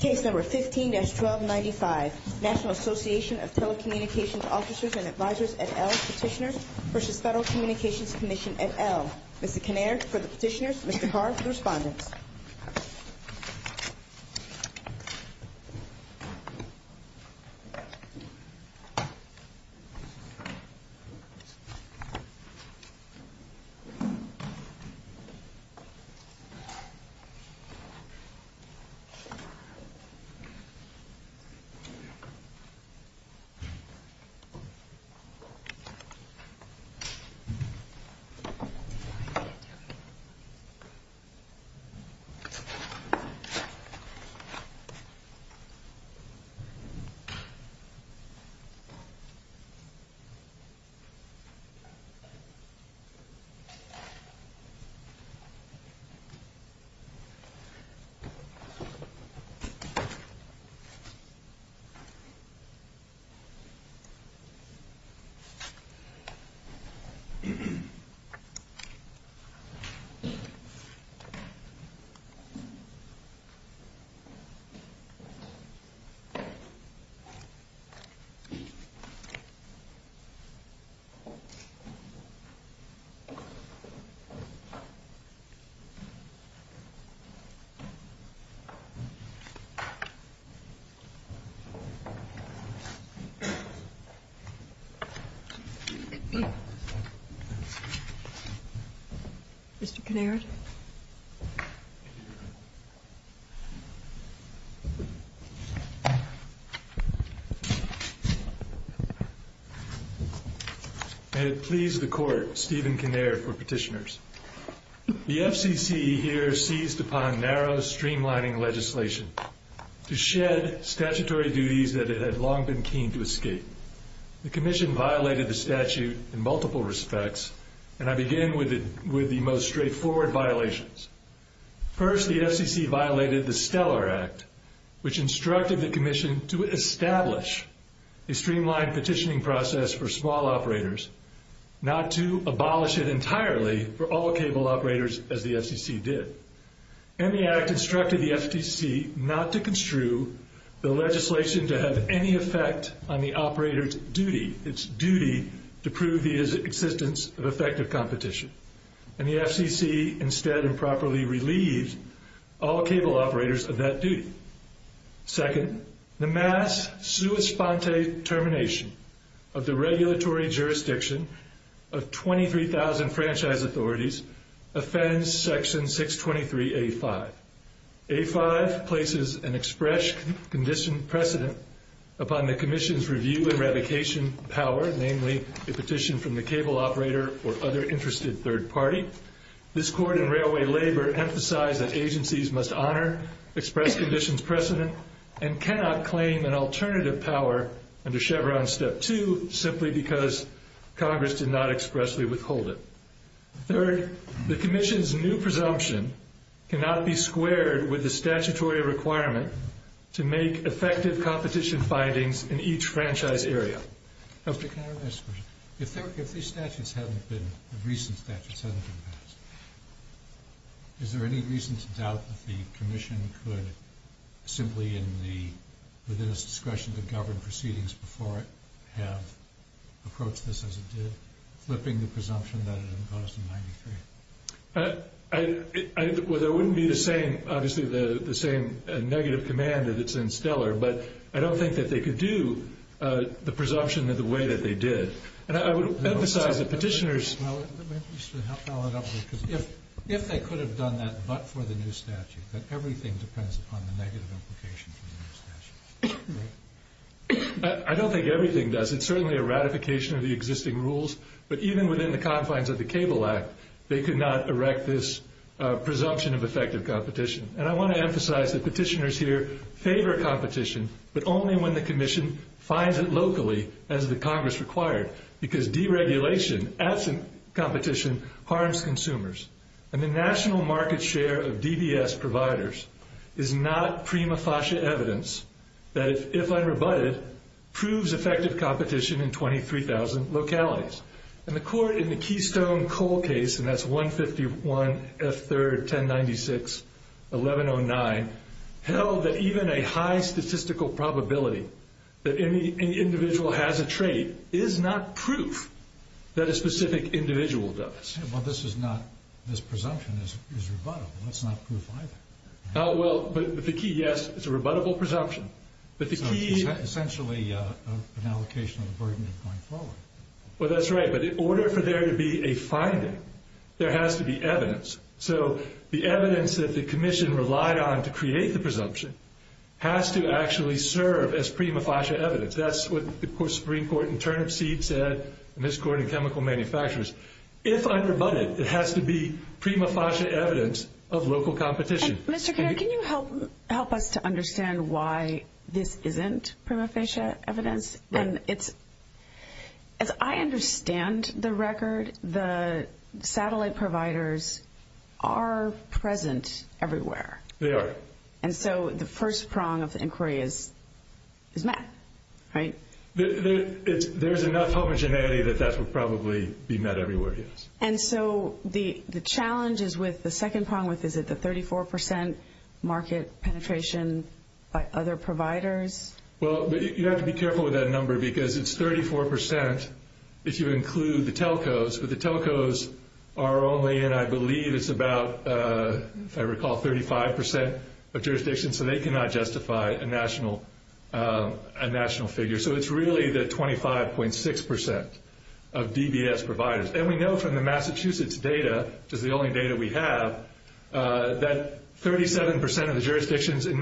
Case number 15-1295, National Association of Telecommunications Officers and Advisors et al. Petitioners v. Federal Communications Commission et al. Mr. Kinnaird for the petitioners, Mr. Carr for the respondents. Thank you. Thank you. Thank you. Thank you. Thank you. Thank you. Thank you. May it please the Court, Stephen Kinnaird for petitioners. The FCC here seized upon narrow streamlining legislation to shed statutory duties that it had long been keen to escape. The Commission violated the statute in multiple respects, and I begin with the most straightforward violations. First, the FCC violated the Stellar Act, which instructed the Commission to establish a streamlined petitioning process for small operators, not to abolish it entirely for all cable operators, as the FCC did. And the Act instructed the FCC not to construe the legislation to have any effect on the operator's duty, its duty to prove the existence of effective competition. And the FCC instead improperly relieved all cable operators of that duty. Second, the mass sua sponte termination of the regulatory jurisdiction of 23,000 franchise authorities offends Section 623A5. A5 places an express condition precedent upon the Commission's review eradication power, namely a petition from the cable operator or other interested third party. This Court in Railway Labor emphasized that agencies must honor express conditions precedent and cannot claim an alternative power under Chevron Step 2 simply because Congress did not expressly withhold it. Third, the Commission's new presumption cannot be squared with the statutory requirement to make effective competition findings in each franchise area. If these recent statutes haven't been passed, is there any reason to doubt that the Commission could, simply within its discretion to govern proceedings before it, have approached this as it did, flipping the presumption that it imposed in 93? There wouldn't be the same negative command that it's in Stellar, but I don't think that they could do the presumption in the way that they did. And I would emphasize that petitioners... Well, let me just follow it up with you, because if they could have done that but for the new statute, that everything depends upon the negative implication from the new statute, right? I don't think everything does. It's certainly a ratification of the existing rules, but even within the confines of the Cable Act, they could not erect this presumption of effective competition. And I want to emphasize that petitioners here favor competition, but only when the Commission finds it locally as the Congress required, because deregulation absent competition harms consumers. And the national market share of DBS providers is not prima facie evidence that, if unrebutted, proves effective competition in 23,000 localities. And the Court in the Keystone-Cole case, and that's 151F3-1096-1109, held that even a high statistical probability that any individual has a trait is not proof that a specific individual does. Well, this presumption is rebuttable. It's not proof either. Well, but the key, yes, it's a rebuttable presumption, but the key... So it's essentially an allocation of the burden of going forward. Well, that's right, but in order for there to be a finding, there has to be evidence. So the evidence that the Commission relied on to create the presumption has to actually serve as prima facie evidence. That's what the Supreme Court in Turnipseed said, and this Court in Chemical Manufacturers. If unrebutted, it has to be prima facie evidence of local competition. Mr. Carter, can you help us to understand why this isn't prima facie evidence? As I understand the record, the satellite providers are present everywhere. They are. And so the first prong of the inquiry is math, right? There's enough homogeneity that that would probably be met everywhere, yes. And so the challenge is with the second prong. Is it the 34% market penetration by other providers? Well, you have to be careful with that number because it's 34% if you include the telcos, but the telcos are only in, I believe, it's about, if I recall, 35% of jurisdictions, so they cannot justify a national figure. So it's really the 25.6% of DBS providers. And we know from the Massachusetts data, which is the only data we have, that 37% of the jurisdictions in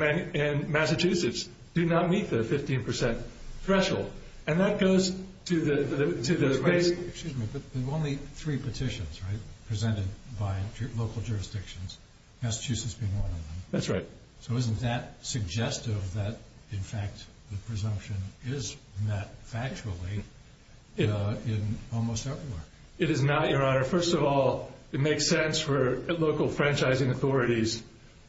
Massachusetts do not meet the 15% threshold, and that goes to the race. Excuse me, but there are only three petitions, right, presented by local jurisdictions, Massachusetts being one of them. That's right. So isn't that suggestive that, in fact, the presumption is met factually in almost everywhere? It is not, Your Honor. First of all, it makes sense for local franchising authorities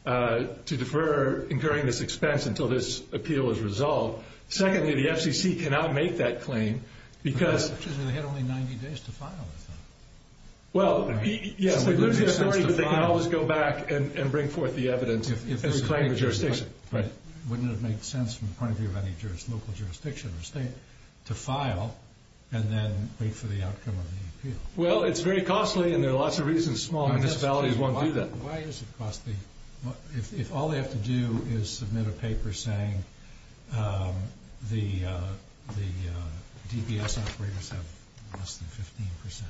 to defer incurring this expense until this appeal is resolved. Secondly, the FCC cannot make that claim because they have only 90 days to file it. Well, yes, they can always go back and bring forth the evidence and reclaim the jurisdiction. Wouldn't it make sense from the point of view of any local jurisdiction or state to file and then wait for the outcome of the appeal? Well, it's very costly, and there are lots of reasons small municipalities won't do that. Why is it costly if all they have to do is submit a paper saying the DBS operators have less than 15%?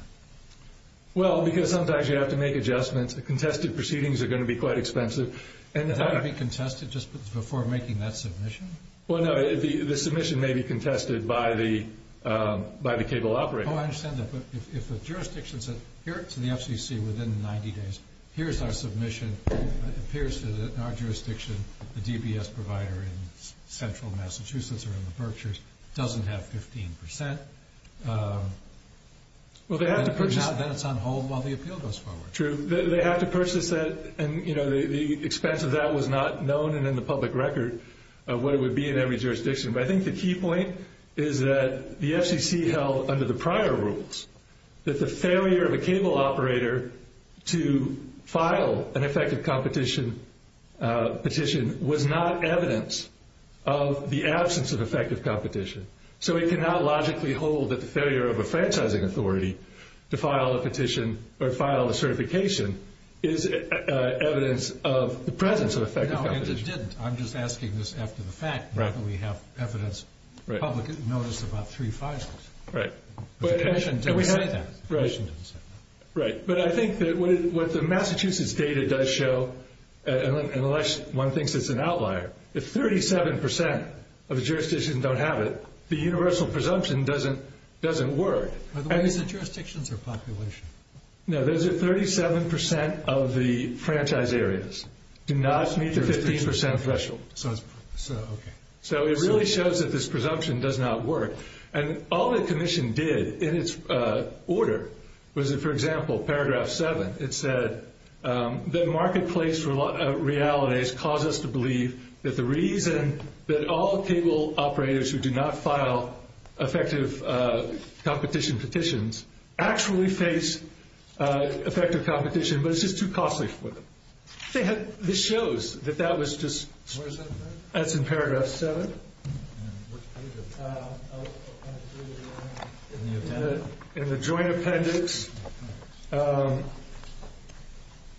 Well, because sometimes you have to make adjustments. The contested proceedings are going to be quite expensive. Are they going to be contested just before making that submission? Well, no, the submission may be contested by the cable operator. Oh, I understand that, but if a jurisdiction says, here to the FCC within 90 days, here's our submission, it appears that in our jurisdiction the DBS provider in central Massachusetts or in the Berkshires doesn't have 15%. Well, then it's on hold while the appeal goes forward. True. They have to purchase that, and the expense of that was not known and in the public record of what it would be in every jurisdiction. But I think the key point is that the FCC held under the prior rules that the failure of a cable operator to file an effective competition petition was not evidence of the absence of effective competition. So it cannot logically hold that the failure of a franchising authority to file a petition or file a certification is evidence of the presence of effective competition. No, and it didn't. I'm just asking this after the fact, not that we have evidence, the public didn't notice about three files. Right. The petition didn't say that. Right. But I think that what the Massachusetts data does show, unless one thinks it's an outlier, if 37% of the jurisdictions don't have it, the universal presumption doesn't work. Are the ones in jurisdictions or population? No, those are 37% of the franchised areas do not meet the 15% threshold. So it really shows that this presumption does not work. And all the commission did in its order was, for example, paragraph 7, it said that marketplace realities cause us to believe that the reason that all cable operators who do not file effective competition petitions actually face effective competition, but it's just too costly for them. This shows that that was just, that's in paragraph 7. In the joint appendix,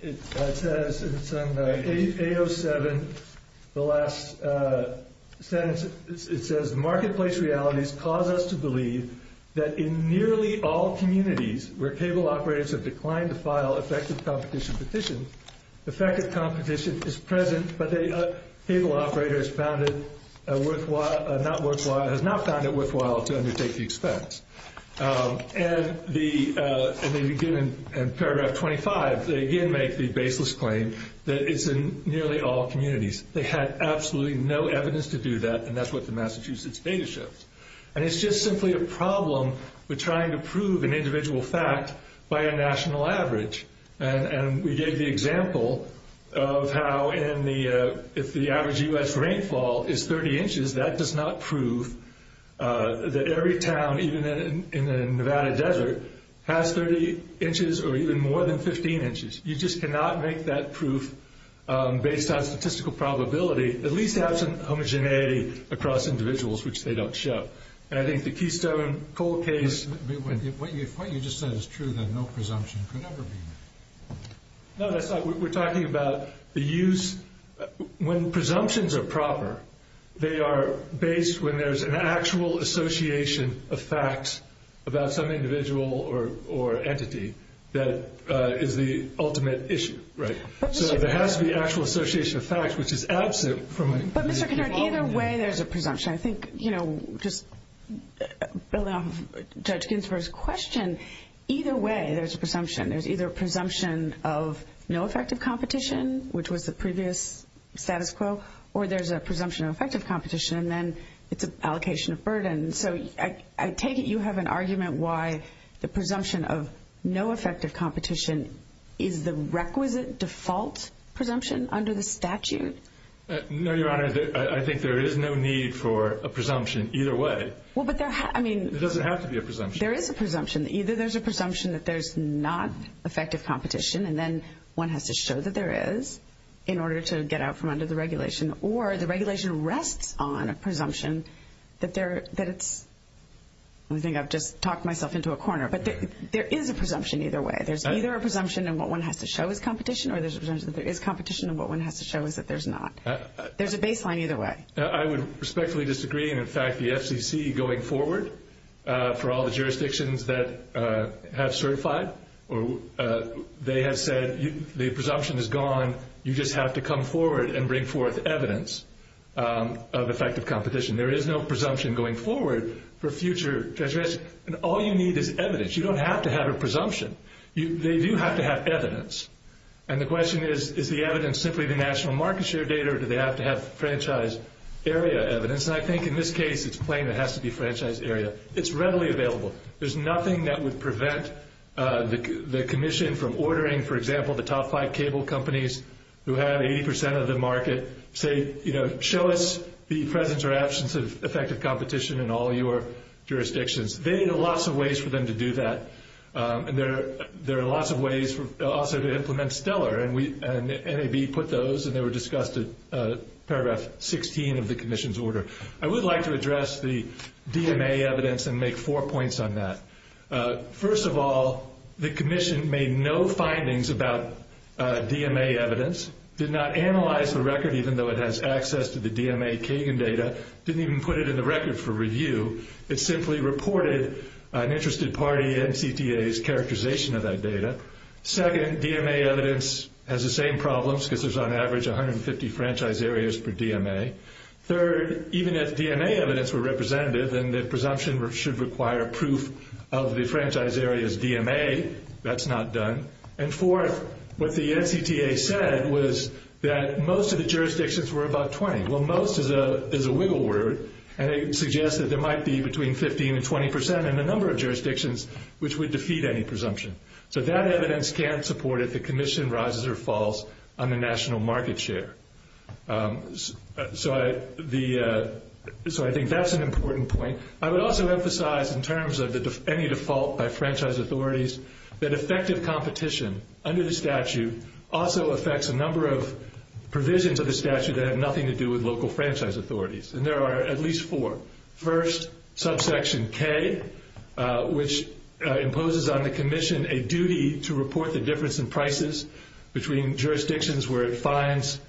it says, it's on the 807, the last sentence, it says marketplace realities cause us to believe that in nearly all communities where cable operators have declined to file effective competition petitions, effective competition is present, but the cable operator has not found it worthwhile to undertake the expense. And they begin in paragraph 25, they again make the baseless claim that it's in nearly all communities. They had absolutely no evidence to do that, and that's what the Massachusetts data shows. And it's just simply a problem with trying to prove an individual fact by a national average. And we gave the example of how if the average U.S. rainfall is 30 inches, that does not prove that every town, even in the Nevada desert, has 30 inches or even more than 15 inches. You just cannot make that proof based on statistical probability, at least absent homogeneity across individuals, which they don't show. And I think the Keystone-Cole case... What you just said is true, that no presumption could ever be made. No, that's not, we're talking about the use, when presumptions are proper, they are based when there's an actual association of facts about some individual or entity that is the ultimate issue, right? So there has to be actual association of facts, which is absent from... But Mr. Connard, either way there's a presumption. I think just building off of Judge Ginsburg's question, either way there's a presumption. There's either a presumption of no effective competition, which was the previous status quo, or there's a presumption of effective competition, and then it's an allocation of burden. So I take it you have an argument why the presumption of no effective competition is the requisite default presumption under the statute? No, Your Honor, I think there is no need for a presumption either way. It doesn't have to be a presumption. There is a presumption. Either there's a presumption that there's not effective competition, and then one has to show that there is in order to get out from under the regulation, or the regulation rests on a presumption that it's... I think I've just talked myself into a corner, but there is a presumption either way. There's either a presumption of what one has to show is competition, or there's a presumption that there is competition and what one has to show is that there's not. There's a baseline either way. I would respectfully disagree, and in fact the FCC going forward, for all the jurisdictions that have certified, they have said the presumption is gone. You just have to come forward and bring forth evidence of effective competition. There is no presumption going forward for future transgressions, and all you need is evidence. You don't have to have a presumption. They do have to have evidence. And the question is, is the evidence simply the national market share data, or do they have to have franchise area evidence? And I think in this case it's plain it has to be franchise area. It's readily available. There's nothing that would prevent the commission from ordering, for example, the top five cable companies who have 80% of the market say, show us the presence or absence of effective competition in all your jurisdictions. There are lots of ways for them to do that, and there are lots of ways also to implement stellar, and NAB put those, and they were discussed at paragraph 16 of the commission's order. I would like to address the DMA evidence and make four points on that. First of all, the commission made no findings about DMA evidence, did not analyze the record, even though it has access to the DMA Kagan data, didn't even put it in the record for review. It simply reported an interested party, NCTA's, characterization of that data. Second, DMA evidence has the same problems because there's on average 150 franchise areas per DMA. Third, even if DMA evidence were representative and the presumption should require proof of the franchise area's DMA, that's not done. And fourth, what the NCTA said was that most of the jurisdictions were about 20. Well, most is a wiggle word, and it suggests that there might be between 15 and 20 percent in a number of jurisdictions which would defeat any presumption. So that evidence can't support if the commission rises or falls on the national market share. So I think that's an important point. I would also emphasize in terms of any default by franchise authorities that effective competition under the statute also affects a number of provisions of the statute that have nothing to do with local franchise authorities, and there are at least four. First, subsection K, which imposes on the commission a duty to report the difference in prices between jurisdictions where it finds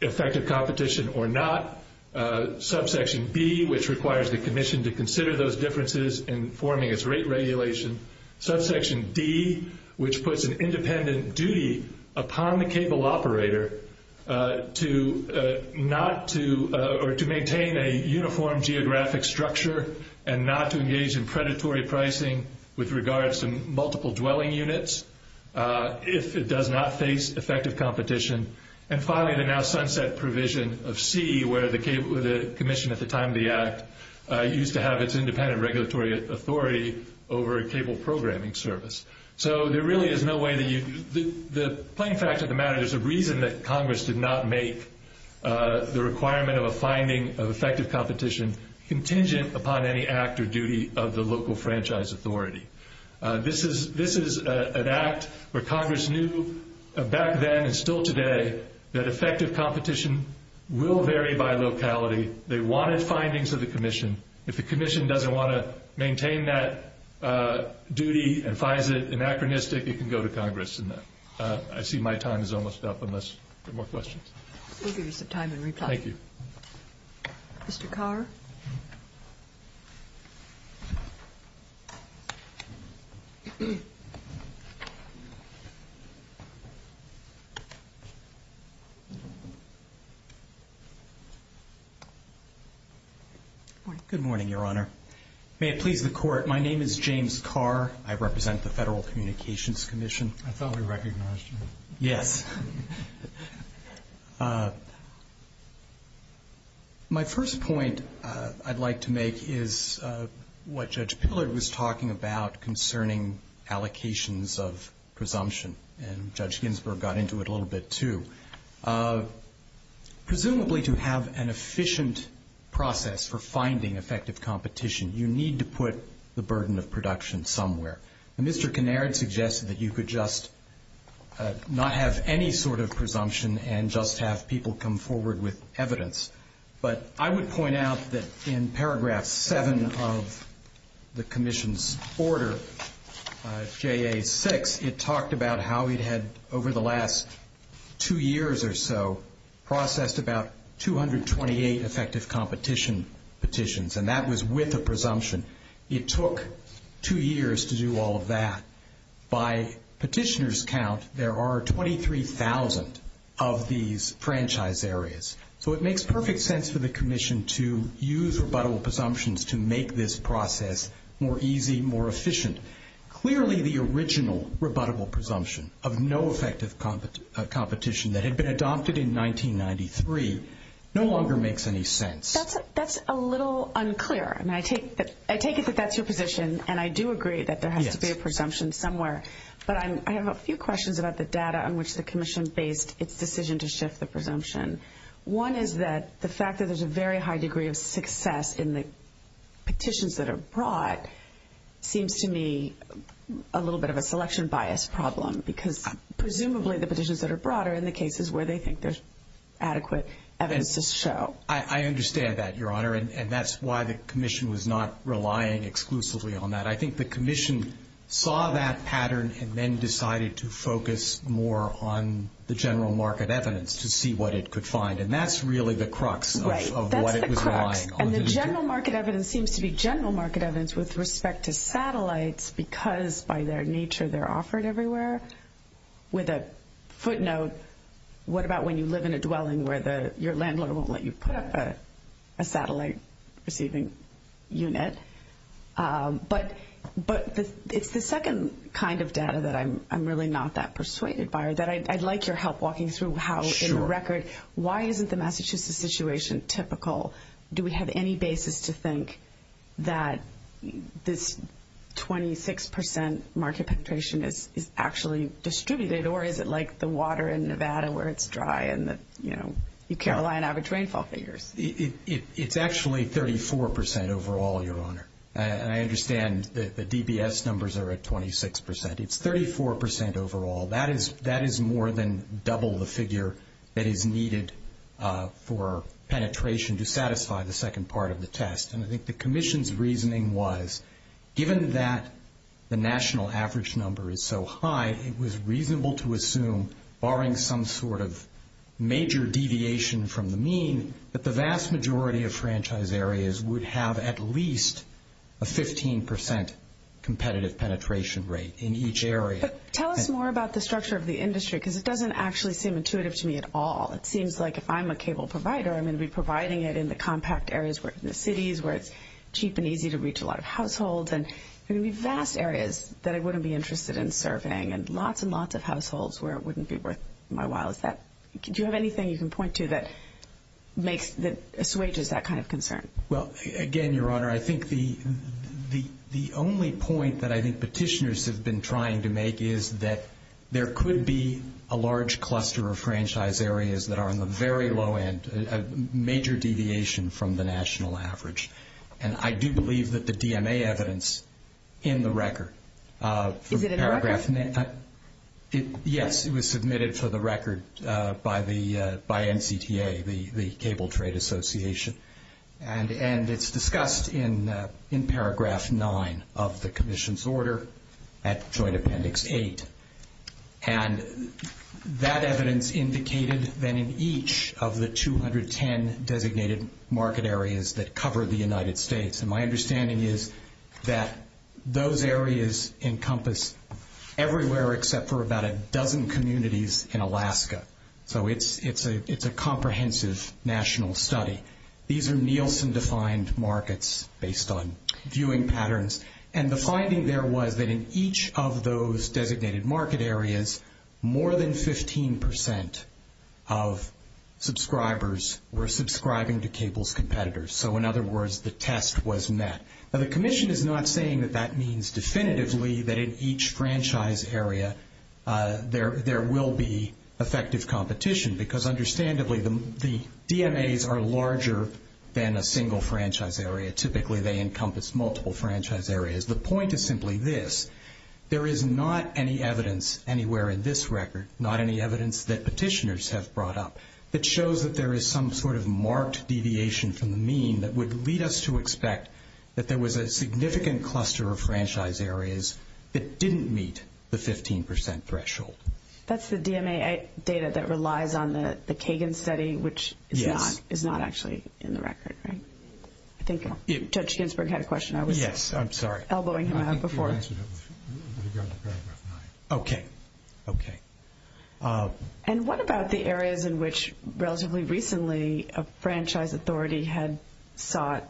effective competition or not. Subsection B, which requires the commission to consider those differences in forming its rate regulation. Subsection D, which puts an independent duty upon the cable operator to not to or to maintain a uniform geographic structure and not to engage in predatory pricing with regards to multiple dwelling units if it does not face effective competition. And finally, the now sunset provision of C, where the commission at the time of the act used to have its independent regulatory authority over a cable programming service. So there really is no way that you – the plain fact of the matter is the reason that Congress did not make the requirement of a finding of effective competition contingent upon any act or duty of the local franchise authority. This is an act where Congress knew back then and still today that effective competition will vary by locality. They wanted findings of the commission. If the commission doesn't want to maintain that duty and finds it anachronistic, it can go to Congress. I see my time is almost up unless there are more questions. We'll give you some time in reply. Thank you. Mr. Carr? Good morning, Your Honor. May it please the Court, my name is James Carr. I represent the Federal Communications Commission. I thought we recognized you. Yes. My first point I'd like to make is what Judge Pillard was talking about concerning allocations of presumption, and Judge Ginsburg got into it a little bit too. Presumably to have an efficient process for finding effective competition, you need to put the burden of production somewhere. And Mr. Kinnaird suggested that you could just not have any sort of presumption and just have people come forward with evidence. But I would point out that in paragraph 7 of the commission's order, JA6, it talked about how it had over the last two years or so processed about 228 effective competition petitions, and that was with a presumption. It took two years to do all of that. By petitioner's count, there are 23,000 of these franchise areas. So it makes perfect sense for the commission to use rebuttable presumptions to make this process more easy, more efficient. Clearly the original rebuttable presumption of no effective competition that had been adopted in 1993 no longer makes any sense. That's a little unclear. I take it that that's your position, and I do agree that there has to be a presumption somewhere. But I have a few questions about the data on which the commission based its decision to shift the presumption. One is that the fact that there's a very high degree of success in the petitions that are brought seems to me a little bit of a selection bias problem because presumably the petitions that are brought are in the cases where they think there's adequate evidence to show. I understand that, Your Honor, and that's why the commission was not relying exclusively on that. I think the commission saw that pattern and then decided to focus more on the general market evidence to see what it could find, and that's really the crux of what it was relying on. Right, that's the crux, and the general market evidence seems to be general market evidence with respect to satellites because by their nature they're offered everywhere. With a footnote, what about when you live in a dwelling where your landlord won't let you put up a satellite-receiving unit? But it's the second kind of data that I'm really not that persuaded by, or that I'd like your help walking through how, in the record, why isn't the Massachusetts situation typical? Do we have any basis to think that this 26 percent market penetration is actually distributed, or is it like the water in Nevada where it's dry and you can't rely on average rainfall figures? It's actually 34 percent overall, Your Honor, and I understand the DBS numbers are at 26 percent. It's 34 percent overall. That is more than double the figure that is needed for penetration to satisfy the second part of the test, and I think the commission's reasoning was given that the national average number is so high, it was reasonable to assume, barring some sort of major deviation from the mean, that the vast majority of franchise areas would have at least a 15 percent competitive penetration rate in each area. But tell us more about the structure of the industry because it doesn't actually seem intuitive to me at all. It seems like if I'm a cable provider, I'm going to be providing it in the compact areas, in the cities where it's cheap and easy to reach a lot of households, and there are going to be vast areas that I wouldn't be interested in serving and lots and lots of households where it wouldn't be worth my while. Do you have anything you can point to that assuages that kind of concern? Well, again, Your Honor, I think the only point that I think petitioners have been trying to make is that there could be a large cluster of franchise areas that are on the very low end, a major deviation from the national average, and I do believe that the DMA evidence in the record. Is it in the record? Yes, it was submitted for the record by NCTA, the Cable Trade Association, and it's discussed in paragraph 9 of the commission's order at Joint Appendix 8. And that evidence indicated that in each of the 210 designated market areas that cover the United States, and my understanding is that those areas encompass everywhere except for about a dozen communities in Alaska. So it's a comprehensive national study. These are Nielsen-defined markets based on viewing patterns, and the finding there was that in each of those designated market areas, more than 15% of subscribers were subscribing to Cable's competitors. So, in other words, the test was met. Now, the commission is not saying that that means definitively that in each franchise area there will be effective competition because, understandably, the DMAs are larger than a single franchise area. Typically, they encompass multiple franchise areas. The point is simply this. There is not any evidence anywhere in this record, not any evidence that petitioners have brought up, that shows that there is some sort of marked deviation from the mean that would lead us to expect that there was a significant cluster of franchise areas that didn't meet the 15% threshold. That's the DMA data that relies on the Kagan study, which is not actually in the record, right? I think Judge Ginsburg had a question. Yes, I'm sorry. I was elbowing him out before. Okay. And what about the areas in which relatively recently a franchise authority had sought,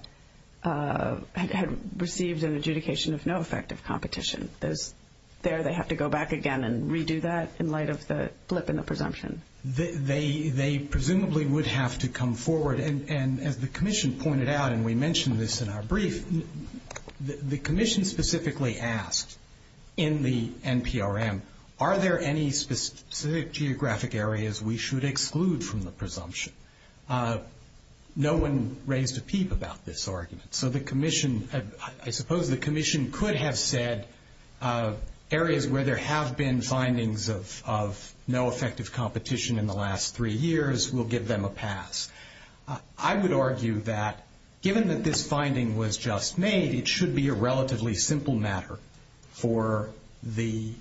had received an adjudication of no effective competition? There they have to go back again and redo that in light of the blip in the presumption? They presumably would have to come forward. And as the commission pointed out, and we mentioned this in our brief, the commission specifically asked in the NPRM, are there any specific geographic areas we should exclude from the presumption? No one raised a peep about this argument. So the commission, I suppose the commission could have said, areas where there have been findings of no effective competition in the last three years, we'll give them a pass. I would argue that given that this finding was just made, it should be a relatively simple matter for the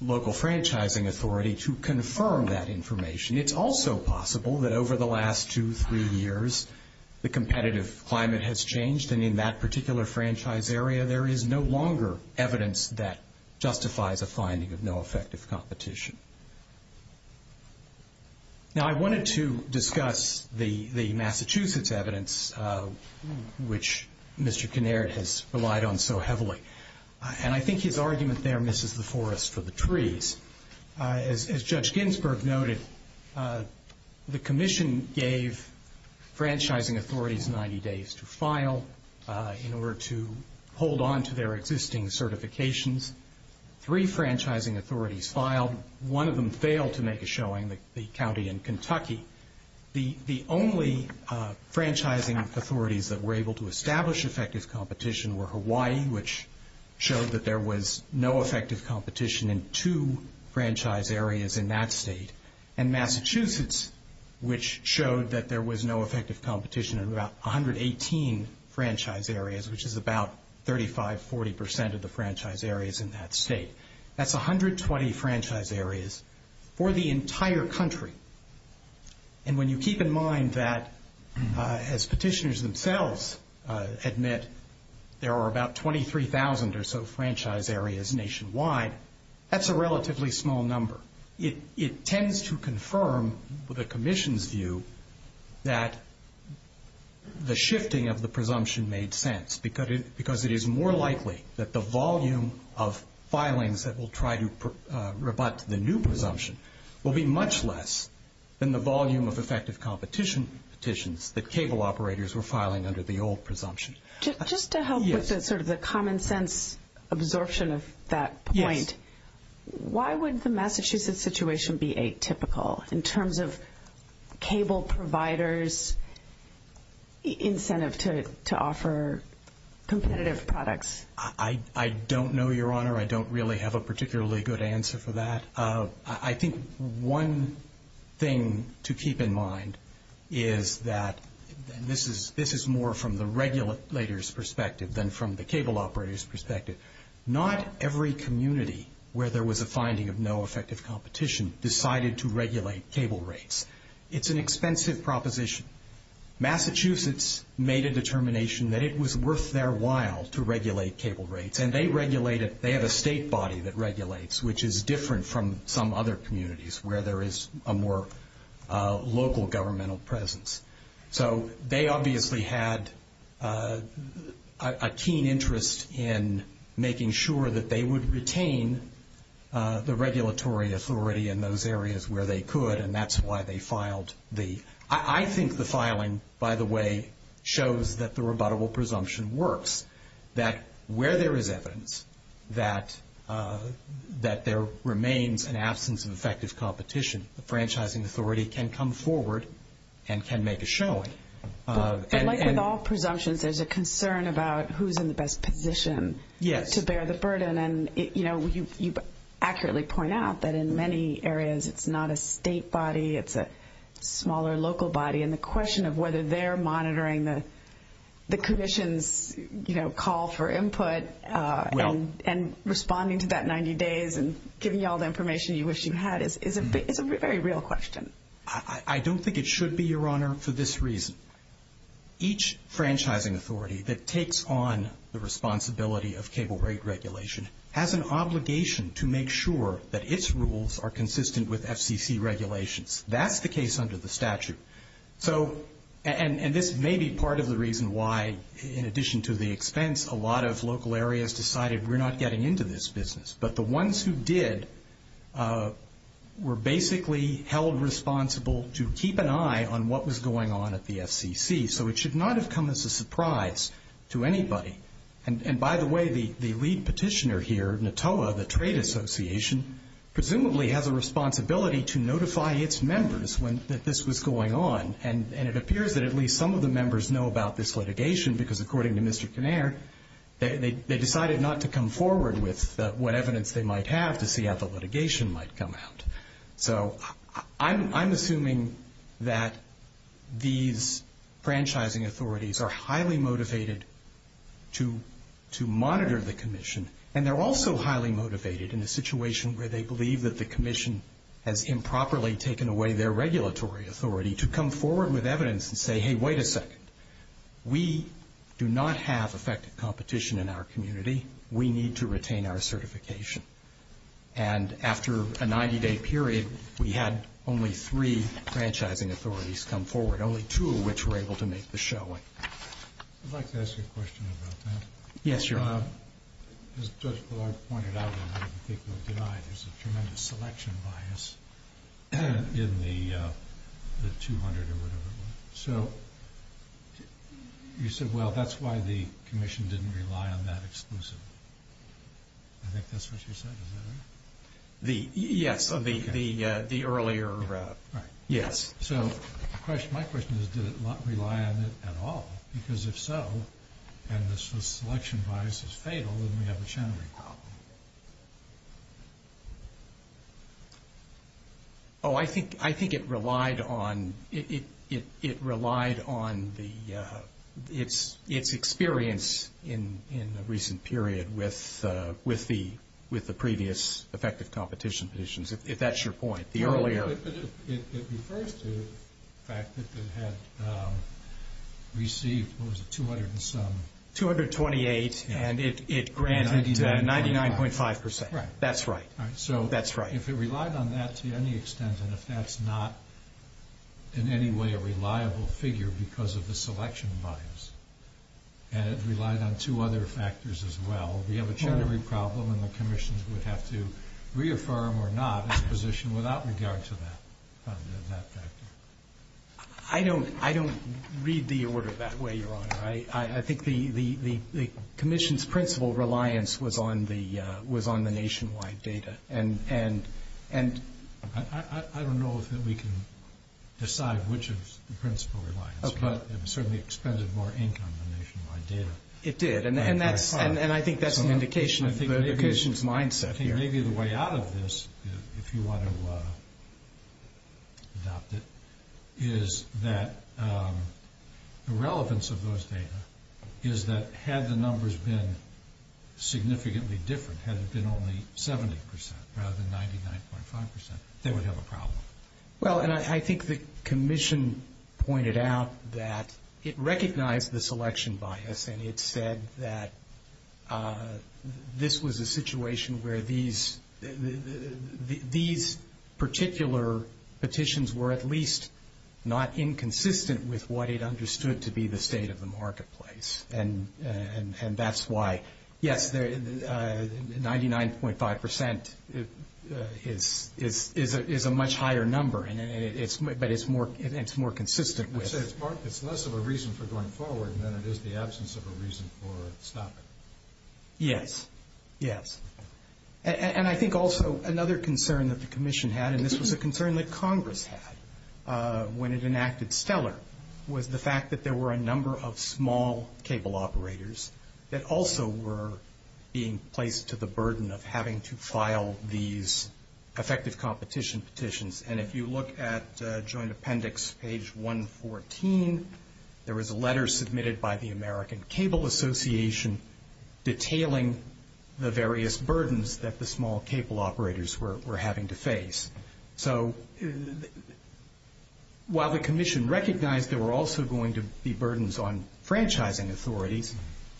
local franchising authority to confirm that information. It's also possible that over the last two, three years, the competitive climate has changed, and in that particular franchise area, there is no longer evidence that justifies a finding of no effective competition. Now, I wanted to discuss the Massachusetts evidence, which Mr. Kinnaird has relied on so heavily. And I think his argument there misses the forest for the trees. As Judge Ginsburg noted, the commission gave franchising authorities 90 days to file in order to hold on to their existing certifications. Three franchising authorities filed. One of them failed to make a showing, the county in Kentucky. The only franchising authorities that were able to establish effective competition were Hawaii, which showed that there was no effective competition in two franchise areas in that state, and Massachusetts, which showed that there was no effective competition in about 118 franchise areas, which is about 35%, 40% of the franchise areas in that state. That's 120 franchise areas for the entire country. And when you keep in mind that, as petitioners themselves admit, there are about 23,000 or so franchise areas nationwide, that's a relatively small number. It tends to confirm the commission's view that the shifting of the presumption made sense because it is more likely that the volume of filings that will try to rebut the new presumption will be much less than the volume of effective competition that cable operators were filing under the old presumption. Just to help with sort of the common sense absorption of that point, why would the Massachusetts situation be atypical in terms of cable providers' incentive to offer competitive products? I don't know, Your Honor. I don't really have a particularly good answer for that. I think one thing to keep in mind is that this is more from the regulators' perspective than from the cable operators' perspective. Not every community where there was a finding of no effective competition decided to regulate cable rates. It's an expensive proposition. Massachusetts made a determination that it was worth their while to regulate cable rates, and they have a state body that regulates, which is different from some other communities where there is a more local governmental presence. So they obviously had a keen interest in making sure that they would retain the regulatory authority in those areas where they could, and that's why they filed the – I think the filing, by the way, shows that the rebuttable presumption works, that where there is evidence that there remains an absence of effective competition, the franchising authority can come forward and can make a showing. But like with all presumptions, there's a concern about who's in the best position to bear the burden, and you accurately point out that in many areas it's not a state body, it's a smaller local body, and the question of whether they're monitoring the commission's call for input and responding to that 90 days and giving you all the information you wish you had is a very real question. I don't think it should be, Your Honor, for this reason. Each franchising authority that takes on the responsibility of cable rate regulation has an obligation to make sure that its rules are consistent with FCC regulations. That's the case under the statute. And this may be part of the reason why, in addition to the expense, a lot of local areas decided we're not getting into this business, but the ones who did were basically held responsible to keep an eye on what was going on at the FCC, so it should not have come as a surprise to anybody. And by the way, the lead petitioner here, NTOA, the Trade Association, presumably has a responsibility to notify its members that this was going on, and it appears that at least some of the members know about this litigation because, according to Mr. Kinnair, they decided not to come forward with what evidence they might have to see how the litigation might come out. So I'm assuming that these franchising authorities are highly motivated to monitor the commission, and they're also highly motivated in a situation where they believe that the commission has improperly taken away their regulatory authority to come forward with evidence and say, hey, wait a second, we do not have effective competition in our community. We need to retain our certification. And after a 90-day period, we had only three franchising authorities come forward, only two of which were able to make the showing. I'd like to ask you a question about that. Yes, Your Honor. As Judge Ballard pointed out in the particular deny, there's a tremendous selection bias in the 200 or whatever. So you said, well, that's why the commission didn't rely on that exclusively. I think that's what you said, is that it? Yes, the earlier, yes. So my question is, did it rely on it at all? Because if so, and the selection bias is fatal, then we have a channeling problem. Oh, I think it relied on its experience in the recent period with the previous effective competition conditions, if that's your point. It refers to the fact that it had received, what was it, 200 and some? 228, and it granted 99.5%. That's right. So if it relied on that to any extent, and if that's not in any way a reliable figure because of the selection bias, and it relied on two other factors as well, we have a channeling problem and the commission would have to reaffirm or not its position without regard to that factor. I don't read the order that way, Your Honor. I think the commission's principal reliance was on the nationwide data. I don't know if we can decide which is the principal reliance, but it certainly expended more ink on the nationwide data. It did. And I think that's an indication of the commission's mindset here. Maybe the way out of this, if you want to adopt it, is that the relevance of those data is that had the numbers been significantly different, had it been only 70% rather than 99.5%, they would have a problem. Well, and I think the commission pointed out that it recognized the selection bias and it said that this was a situation where these particular petitions were at least not inconsistent with what it understood to be the state of the marketplace. And that's why, yes, 99.5% is a much higher number, but it's more consistent with it. I say it's less of a reason for going forward than it is the absence of a reason for stopping it. Yes, yes. And I think also another concern that the commission had, and this was a concern that Congress had when it enacted Stellar, was the fact that there were a number of small cable operators that also were being placed to the burden of having to file these effective competition petitions. And if you look at joint appendix page 114, there was a letter submitted by the American Cable Association detailing the various burdens that the small cable operators were having to face. So while the commission recognized there were also going to be burdens on franchising authorities,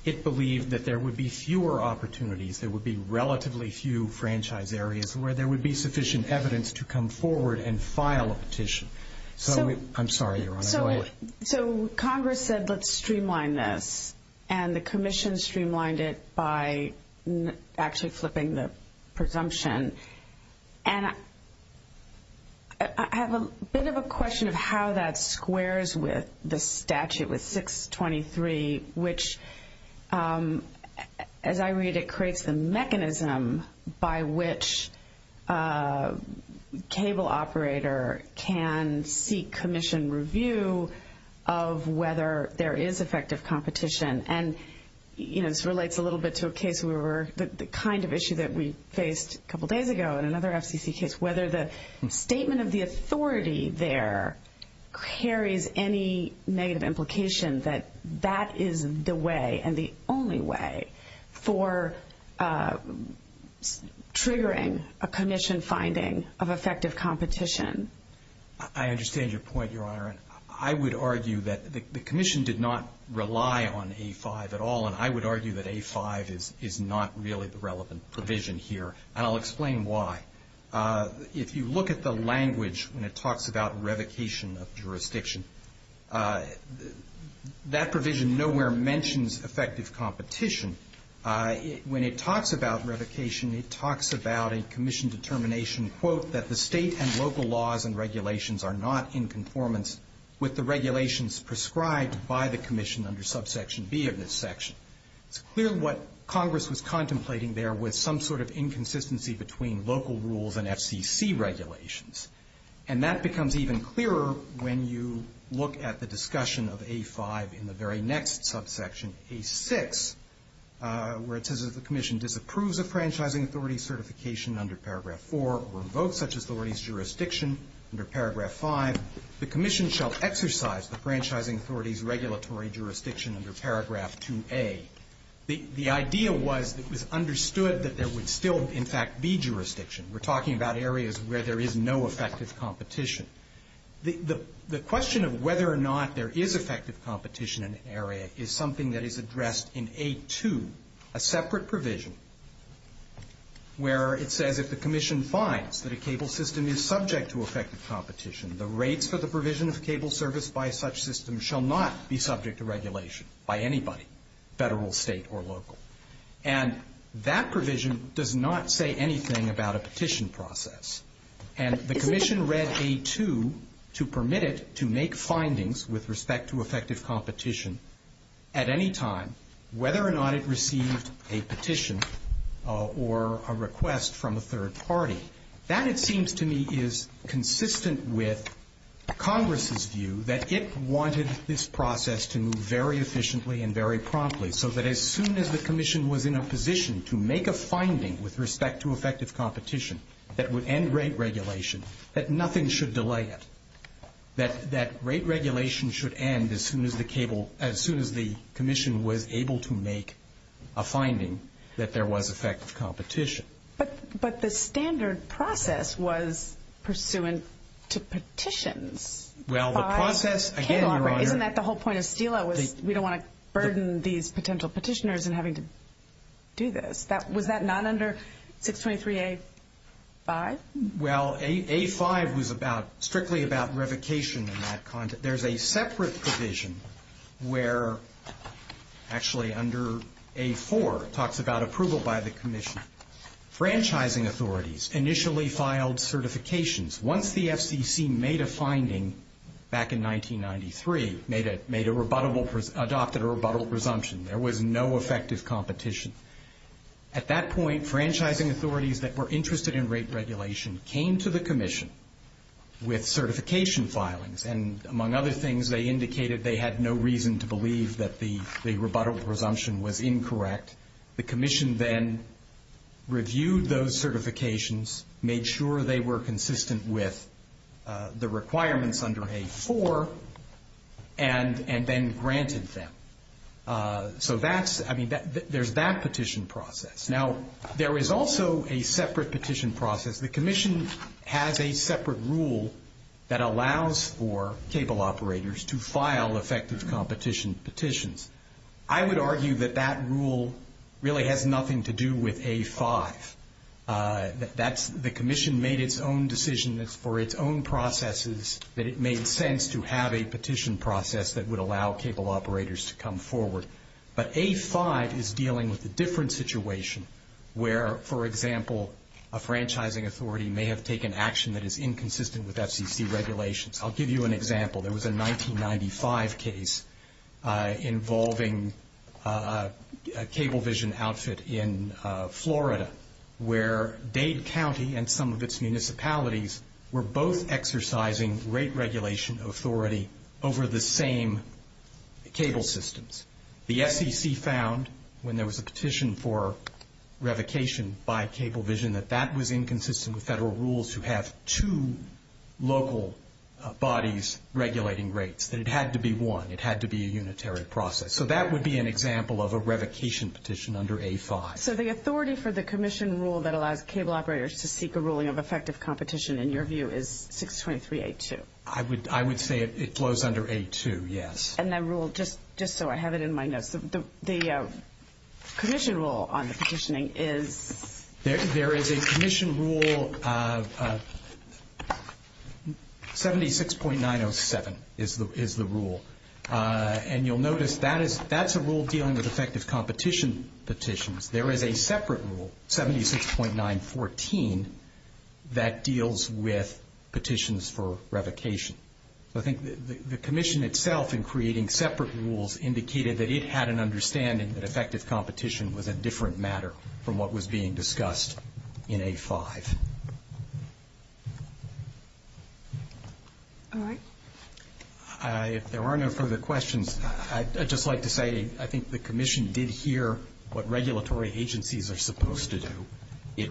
it believed that there would be fewer opportunities, there would be relatively few franchise areas where there would be sufficient evidence to come forward and file a petition. So I'm sorry, Your Honor. So Congress said let's streamline this, and the commission streamlined it by actually flipping the presumption. And I have a bit of a question of how that squares with the statute, with 623, which, as I read it, creates the mechanism by which a cable operator can seek commission review of whether there is effective competition. And, you know, this relates a little bit to a case where the kind of issue that we faced a couple days ago in another FCC case, whether the statement of the authority there carries any negative implication that that is the way and the only way for triggering a commission finding of effective competition. I understand your point, Your Honor. I would argue that the commission did not rely on A5 at all, and I would argue that A5 is not really the relevant provision here, and I'll explain why. If you look at the language when it talks about revocation of jurisdiction, that provision nowhere mentions effective competition. When it talks about revocation, it talks about a commission determination, quote, that the state and local laws and regulations are not in conformance with the regulations prescribed by the commission under subsection B of this section. It's clear what Congress was contemplating there was some sort of inconsistency between local rules and FCC regulations. And that becomes even clearer when you look at the discussion of A5 in the very next subsection, A6, where it says that the commission disapproves of franchising authority certification under paragraph 4 or revokes such authority's jurisdiction under paragraph 5. The commission shall exercise the franchising authority's regulatory jurisdiction under paragraph 2A. The idea was that it was understood that there would still, in fact, be jurisdiction. We're talking about areas where there is no effective competition. The question of whether or not there is effective competition in an area is something that is addressed in A2, a separate provision, where it says if the commission finds that a cable system is subject to effective competition, the rates for the provision of cable service by such system shall not be subject to regulation by anybody, federal, state, or local. And that provision does not say anything about a petition process. And the commission read A2 to permit it to make findings with respect to effective competition at any time, whether or not it received a petition or a request from a third party. That, it seems to me, is consistent with Congress's view that it wanted this process to move very efficiently and very promptly so that as soon as the commission was in a position to make a finding with respect to effective competition that would end rate regulation, that nothing should delay it, that rate regulation should end as soon as the commission was able to make a finding that there was effective competition. But the standard process was pursuant to petitions. Well, the process, again, Your Honor. Isn't that the whole point of STELA was we don't want to burden these potential petitioners in having to do this? Was that not under 623A-5? Well, A-5 was strictly about revocation in that context. There's a separate provision where, actually under A-4, it talks about approval by the commission. Franchising authorities initially filed certifications. Once the FCC made a finding back in 1993, adopted a rebuttable presumption, there was no effective competition. At that point, franchising authorities that were interested in rate regulation came to the commission with certification filings, and among other things, they indicated they had no reason to believe that the rebuttable presumption was incorrect. The commission then reviewed those certifications, made sure they were consistent with the requirements under A-4, and then granted them. So there's that petition process. Now, there is also a separate petition process. The commission has a separate rule that allows for cable operators to file effective competition petitions. I would argue that that rule really has nothing to do with A-5. The commission made its own decision for its own processes that it made sense to have a petition process that would allow cable operators to come forward. But A-5 is dealing with a different situation where, for example, a franchising authority may have taken action that is inconsistent with FCC regulations. I'll give you an example. There was a 1995 case involving a cable vision outfit in Florida where Dade County and some of its municipalities were both exercising rate regulation authority over the same cable systems. The FCC found, when there was a petition for revocation by cable vision, that that was inconsistent with federal rules to have two local bodies regulating rates, that it had to be one. It had to be a unitary process. So that would be an example of a revocation petition under A-5. So the authority for the commission rule that allows cable operators to seek a ruling of effective competition, in your view, is 623-A-2. I would say it flows under A-2, yes. And that rule, just so I have it in my notes, the commission rule on the petitioning is? There is a commission rule, 76.907 is the rule. And you'll notice that's a rule dealing with effective competition petitions. There is a separate rule, 76.914, that deals with petitions for revocation. So I think the commission itself, in creating separate rules, indicated that it had an understanding that effective competition was a different matter from what was being discussed in A-5. All right. If there are no further questions, I'd just like to say I think the commission did hear what regulatory agencies are supposed to do. It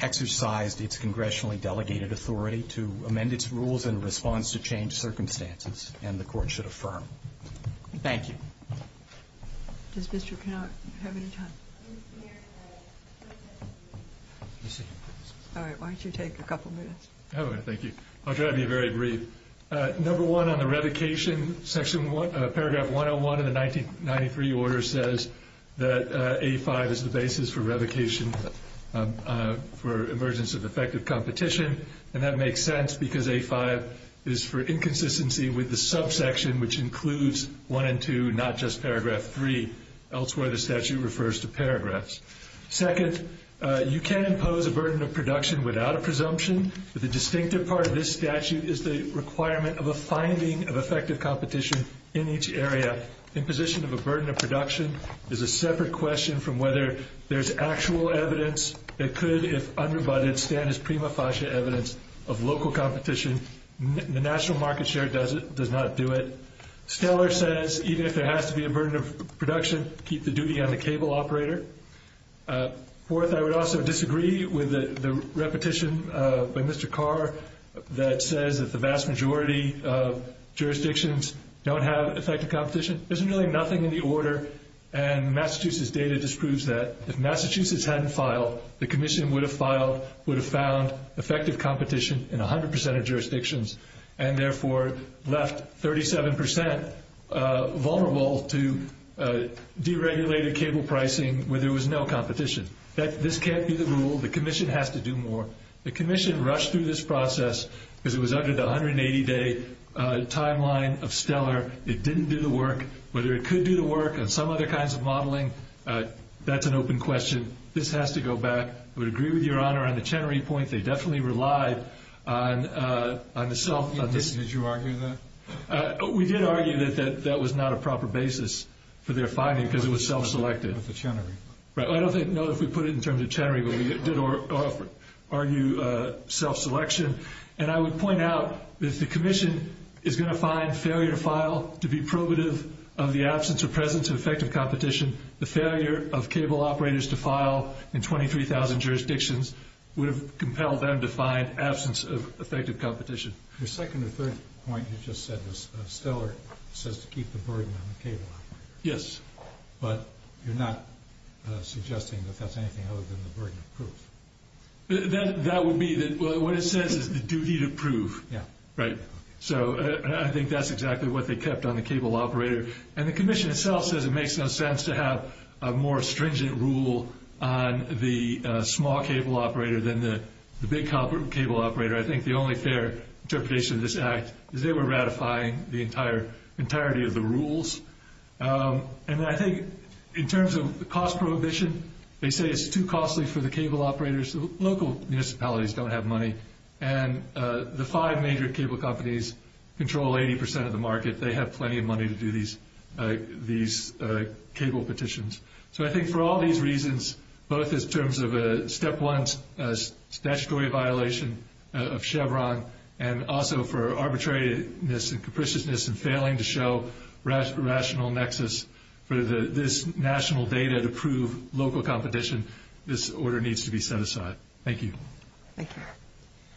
exercised its congressionally delegated authority to amend its rules in response to changed circumstances, and the Court should affirm. Thank you. Does Mr. Canuck have any time? All right. Why don't you take a couple minutes? All right. Thank you. I'll try to be very brief. Number one, on the revocation, paragraph 101 of the 1993 order says that A-5 is the basis for revocation for emergence of effective competition. And that makes sense because A-5 is for inconsistency with the subsection, which includes 1 and 2, not just paragraph 3. Elsewhere, the statute refers to paragraphs. Second, you can impose a burden of production without a presumption. But the distinctive part of this statute is the requirement of a finding of effective competition in each area. Imposition of a burden of production is a separate question from whether there's actual evidence that could, if unrebutted, stand as prima facie evidence of local competition. The national market share does not do it. Stellar says even if there has to be a burden of production, keep the duty on the cable operator. Fourth, I would also disagree with the repetition by Mr. Carr that says that the vast majority of jurisdictions don't have effective competition. There's really nothing in the order, and Massachusetts data disproves that. If Massachusetts hadn't filed, the commission would have filed, would have found effective competition in 100 percent of jurisdictions, and therefore left 37 percent vulnerable to deregulated cable pricing where there was no competition. This can't be the rule. The commission has to do more. The commission rushed through this process because it was under the 180-day timeline of Stellar. It didn't do the work. Whether it could do the work on some other kinds of modeling, that's an open question. This has to go back. I would agree with Your Honor on the Chenery point. They definitely relied on the self- Did you argue that? We did argue that that was not a proper basis for their finding because it was self-selected. I don't know if we put it in terms of Chenery, but we did argue self-selection. And I would point out that if the commission is going to find failure to file to be probative of the absence or presence of effective competition, the failure of cable operators to file in 23,000 jurisdictions would have compelled them to find absence of effective competition. The second or third point you just said was Stellar says to keep the burden on the cable operator. Yes. But you're not suggesting that that's anything other than the burden of proof. That would be that what it says is the duty to prove. Yeah. Right. So I think that's exactly what they kept on the cable operator. And the commission itself says it makes no sense to have a more stringent rule on the small cable operator than the big cable operator. I think the only fair interpretation of this act is they were ratifying the entirety of the rules. And I think in terms of the cost prohibition, they say it's too costly for the cable operators. Local municipalities don't have money. And the five major cable companies control 80% of the market. They have plenty of money to do these cable petitions. So I think for all these reasons, both in terms of a step one statutory violation of Chevron and also for arbitrariness and capriciousness and failing to show rational nexus for this national data to prove local competition, this order needs to be set aside. Thank you. Thank you.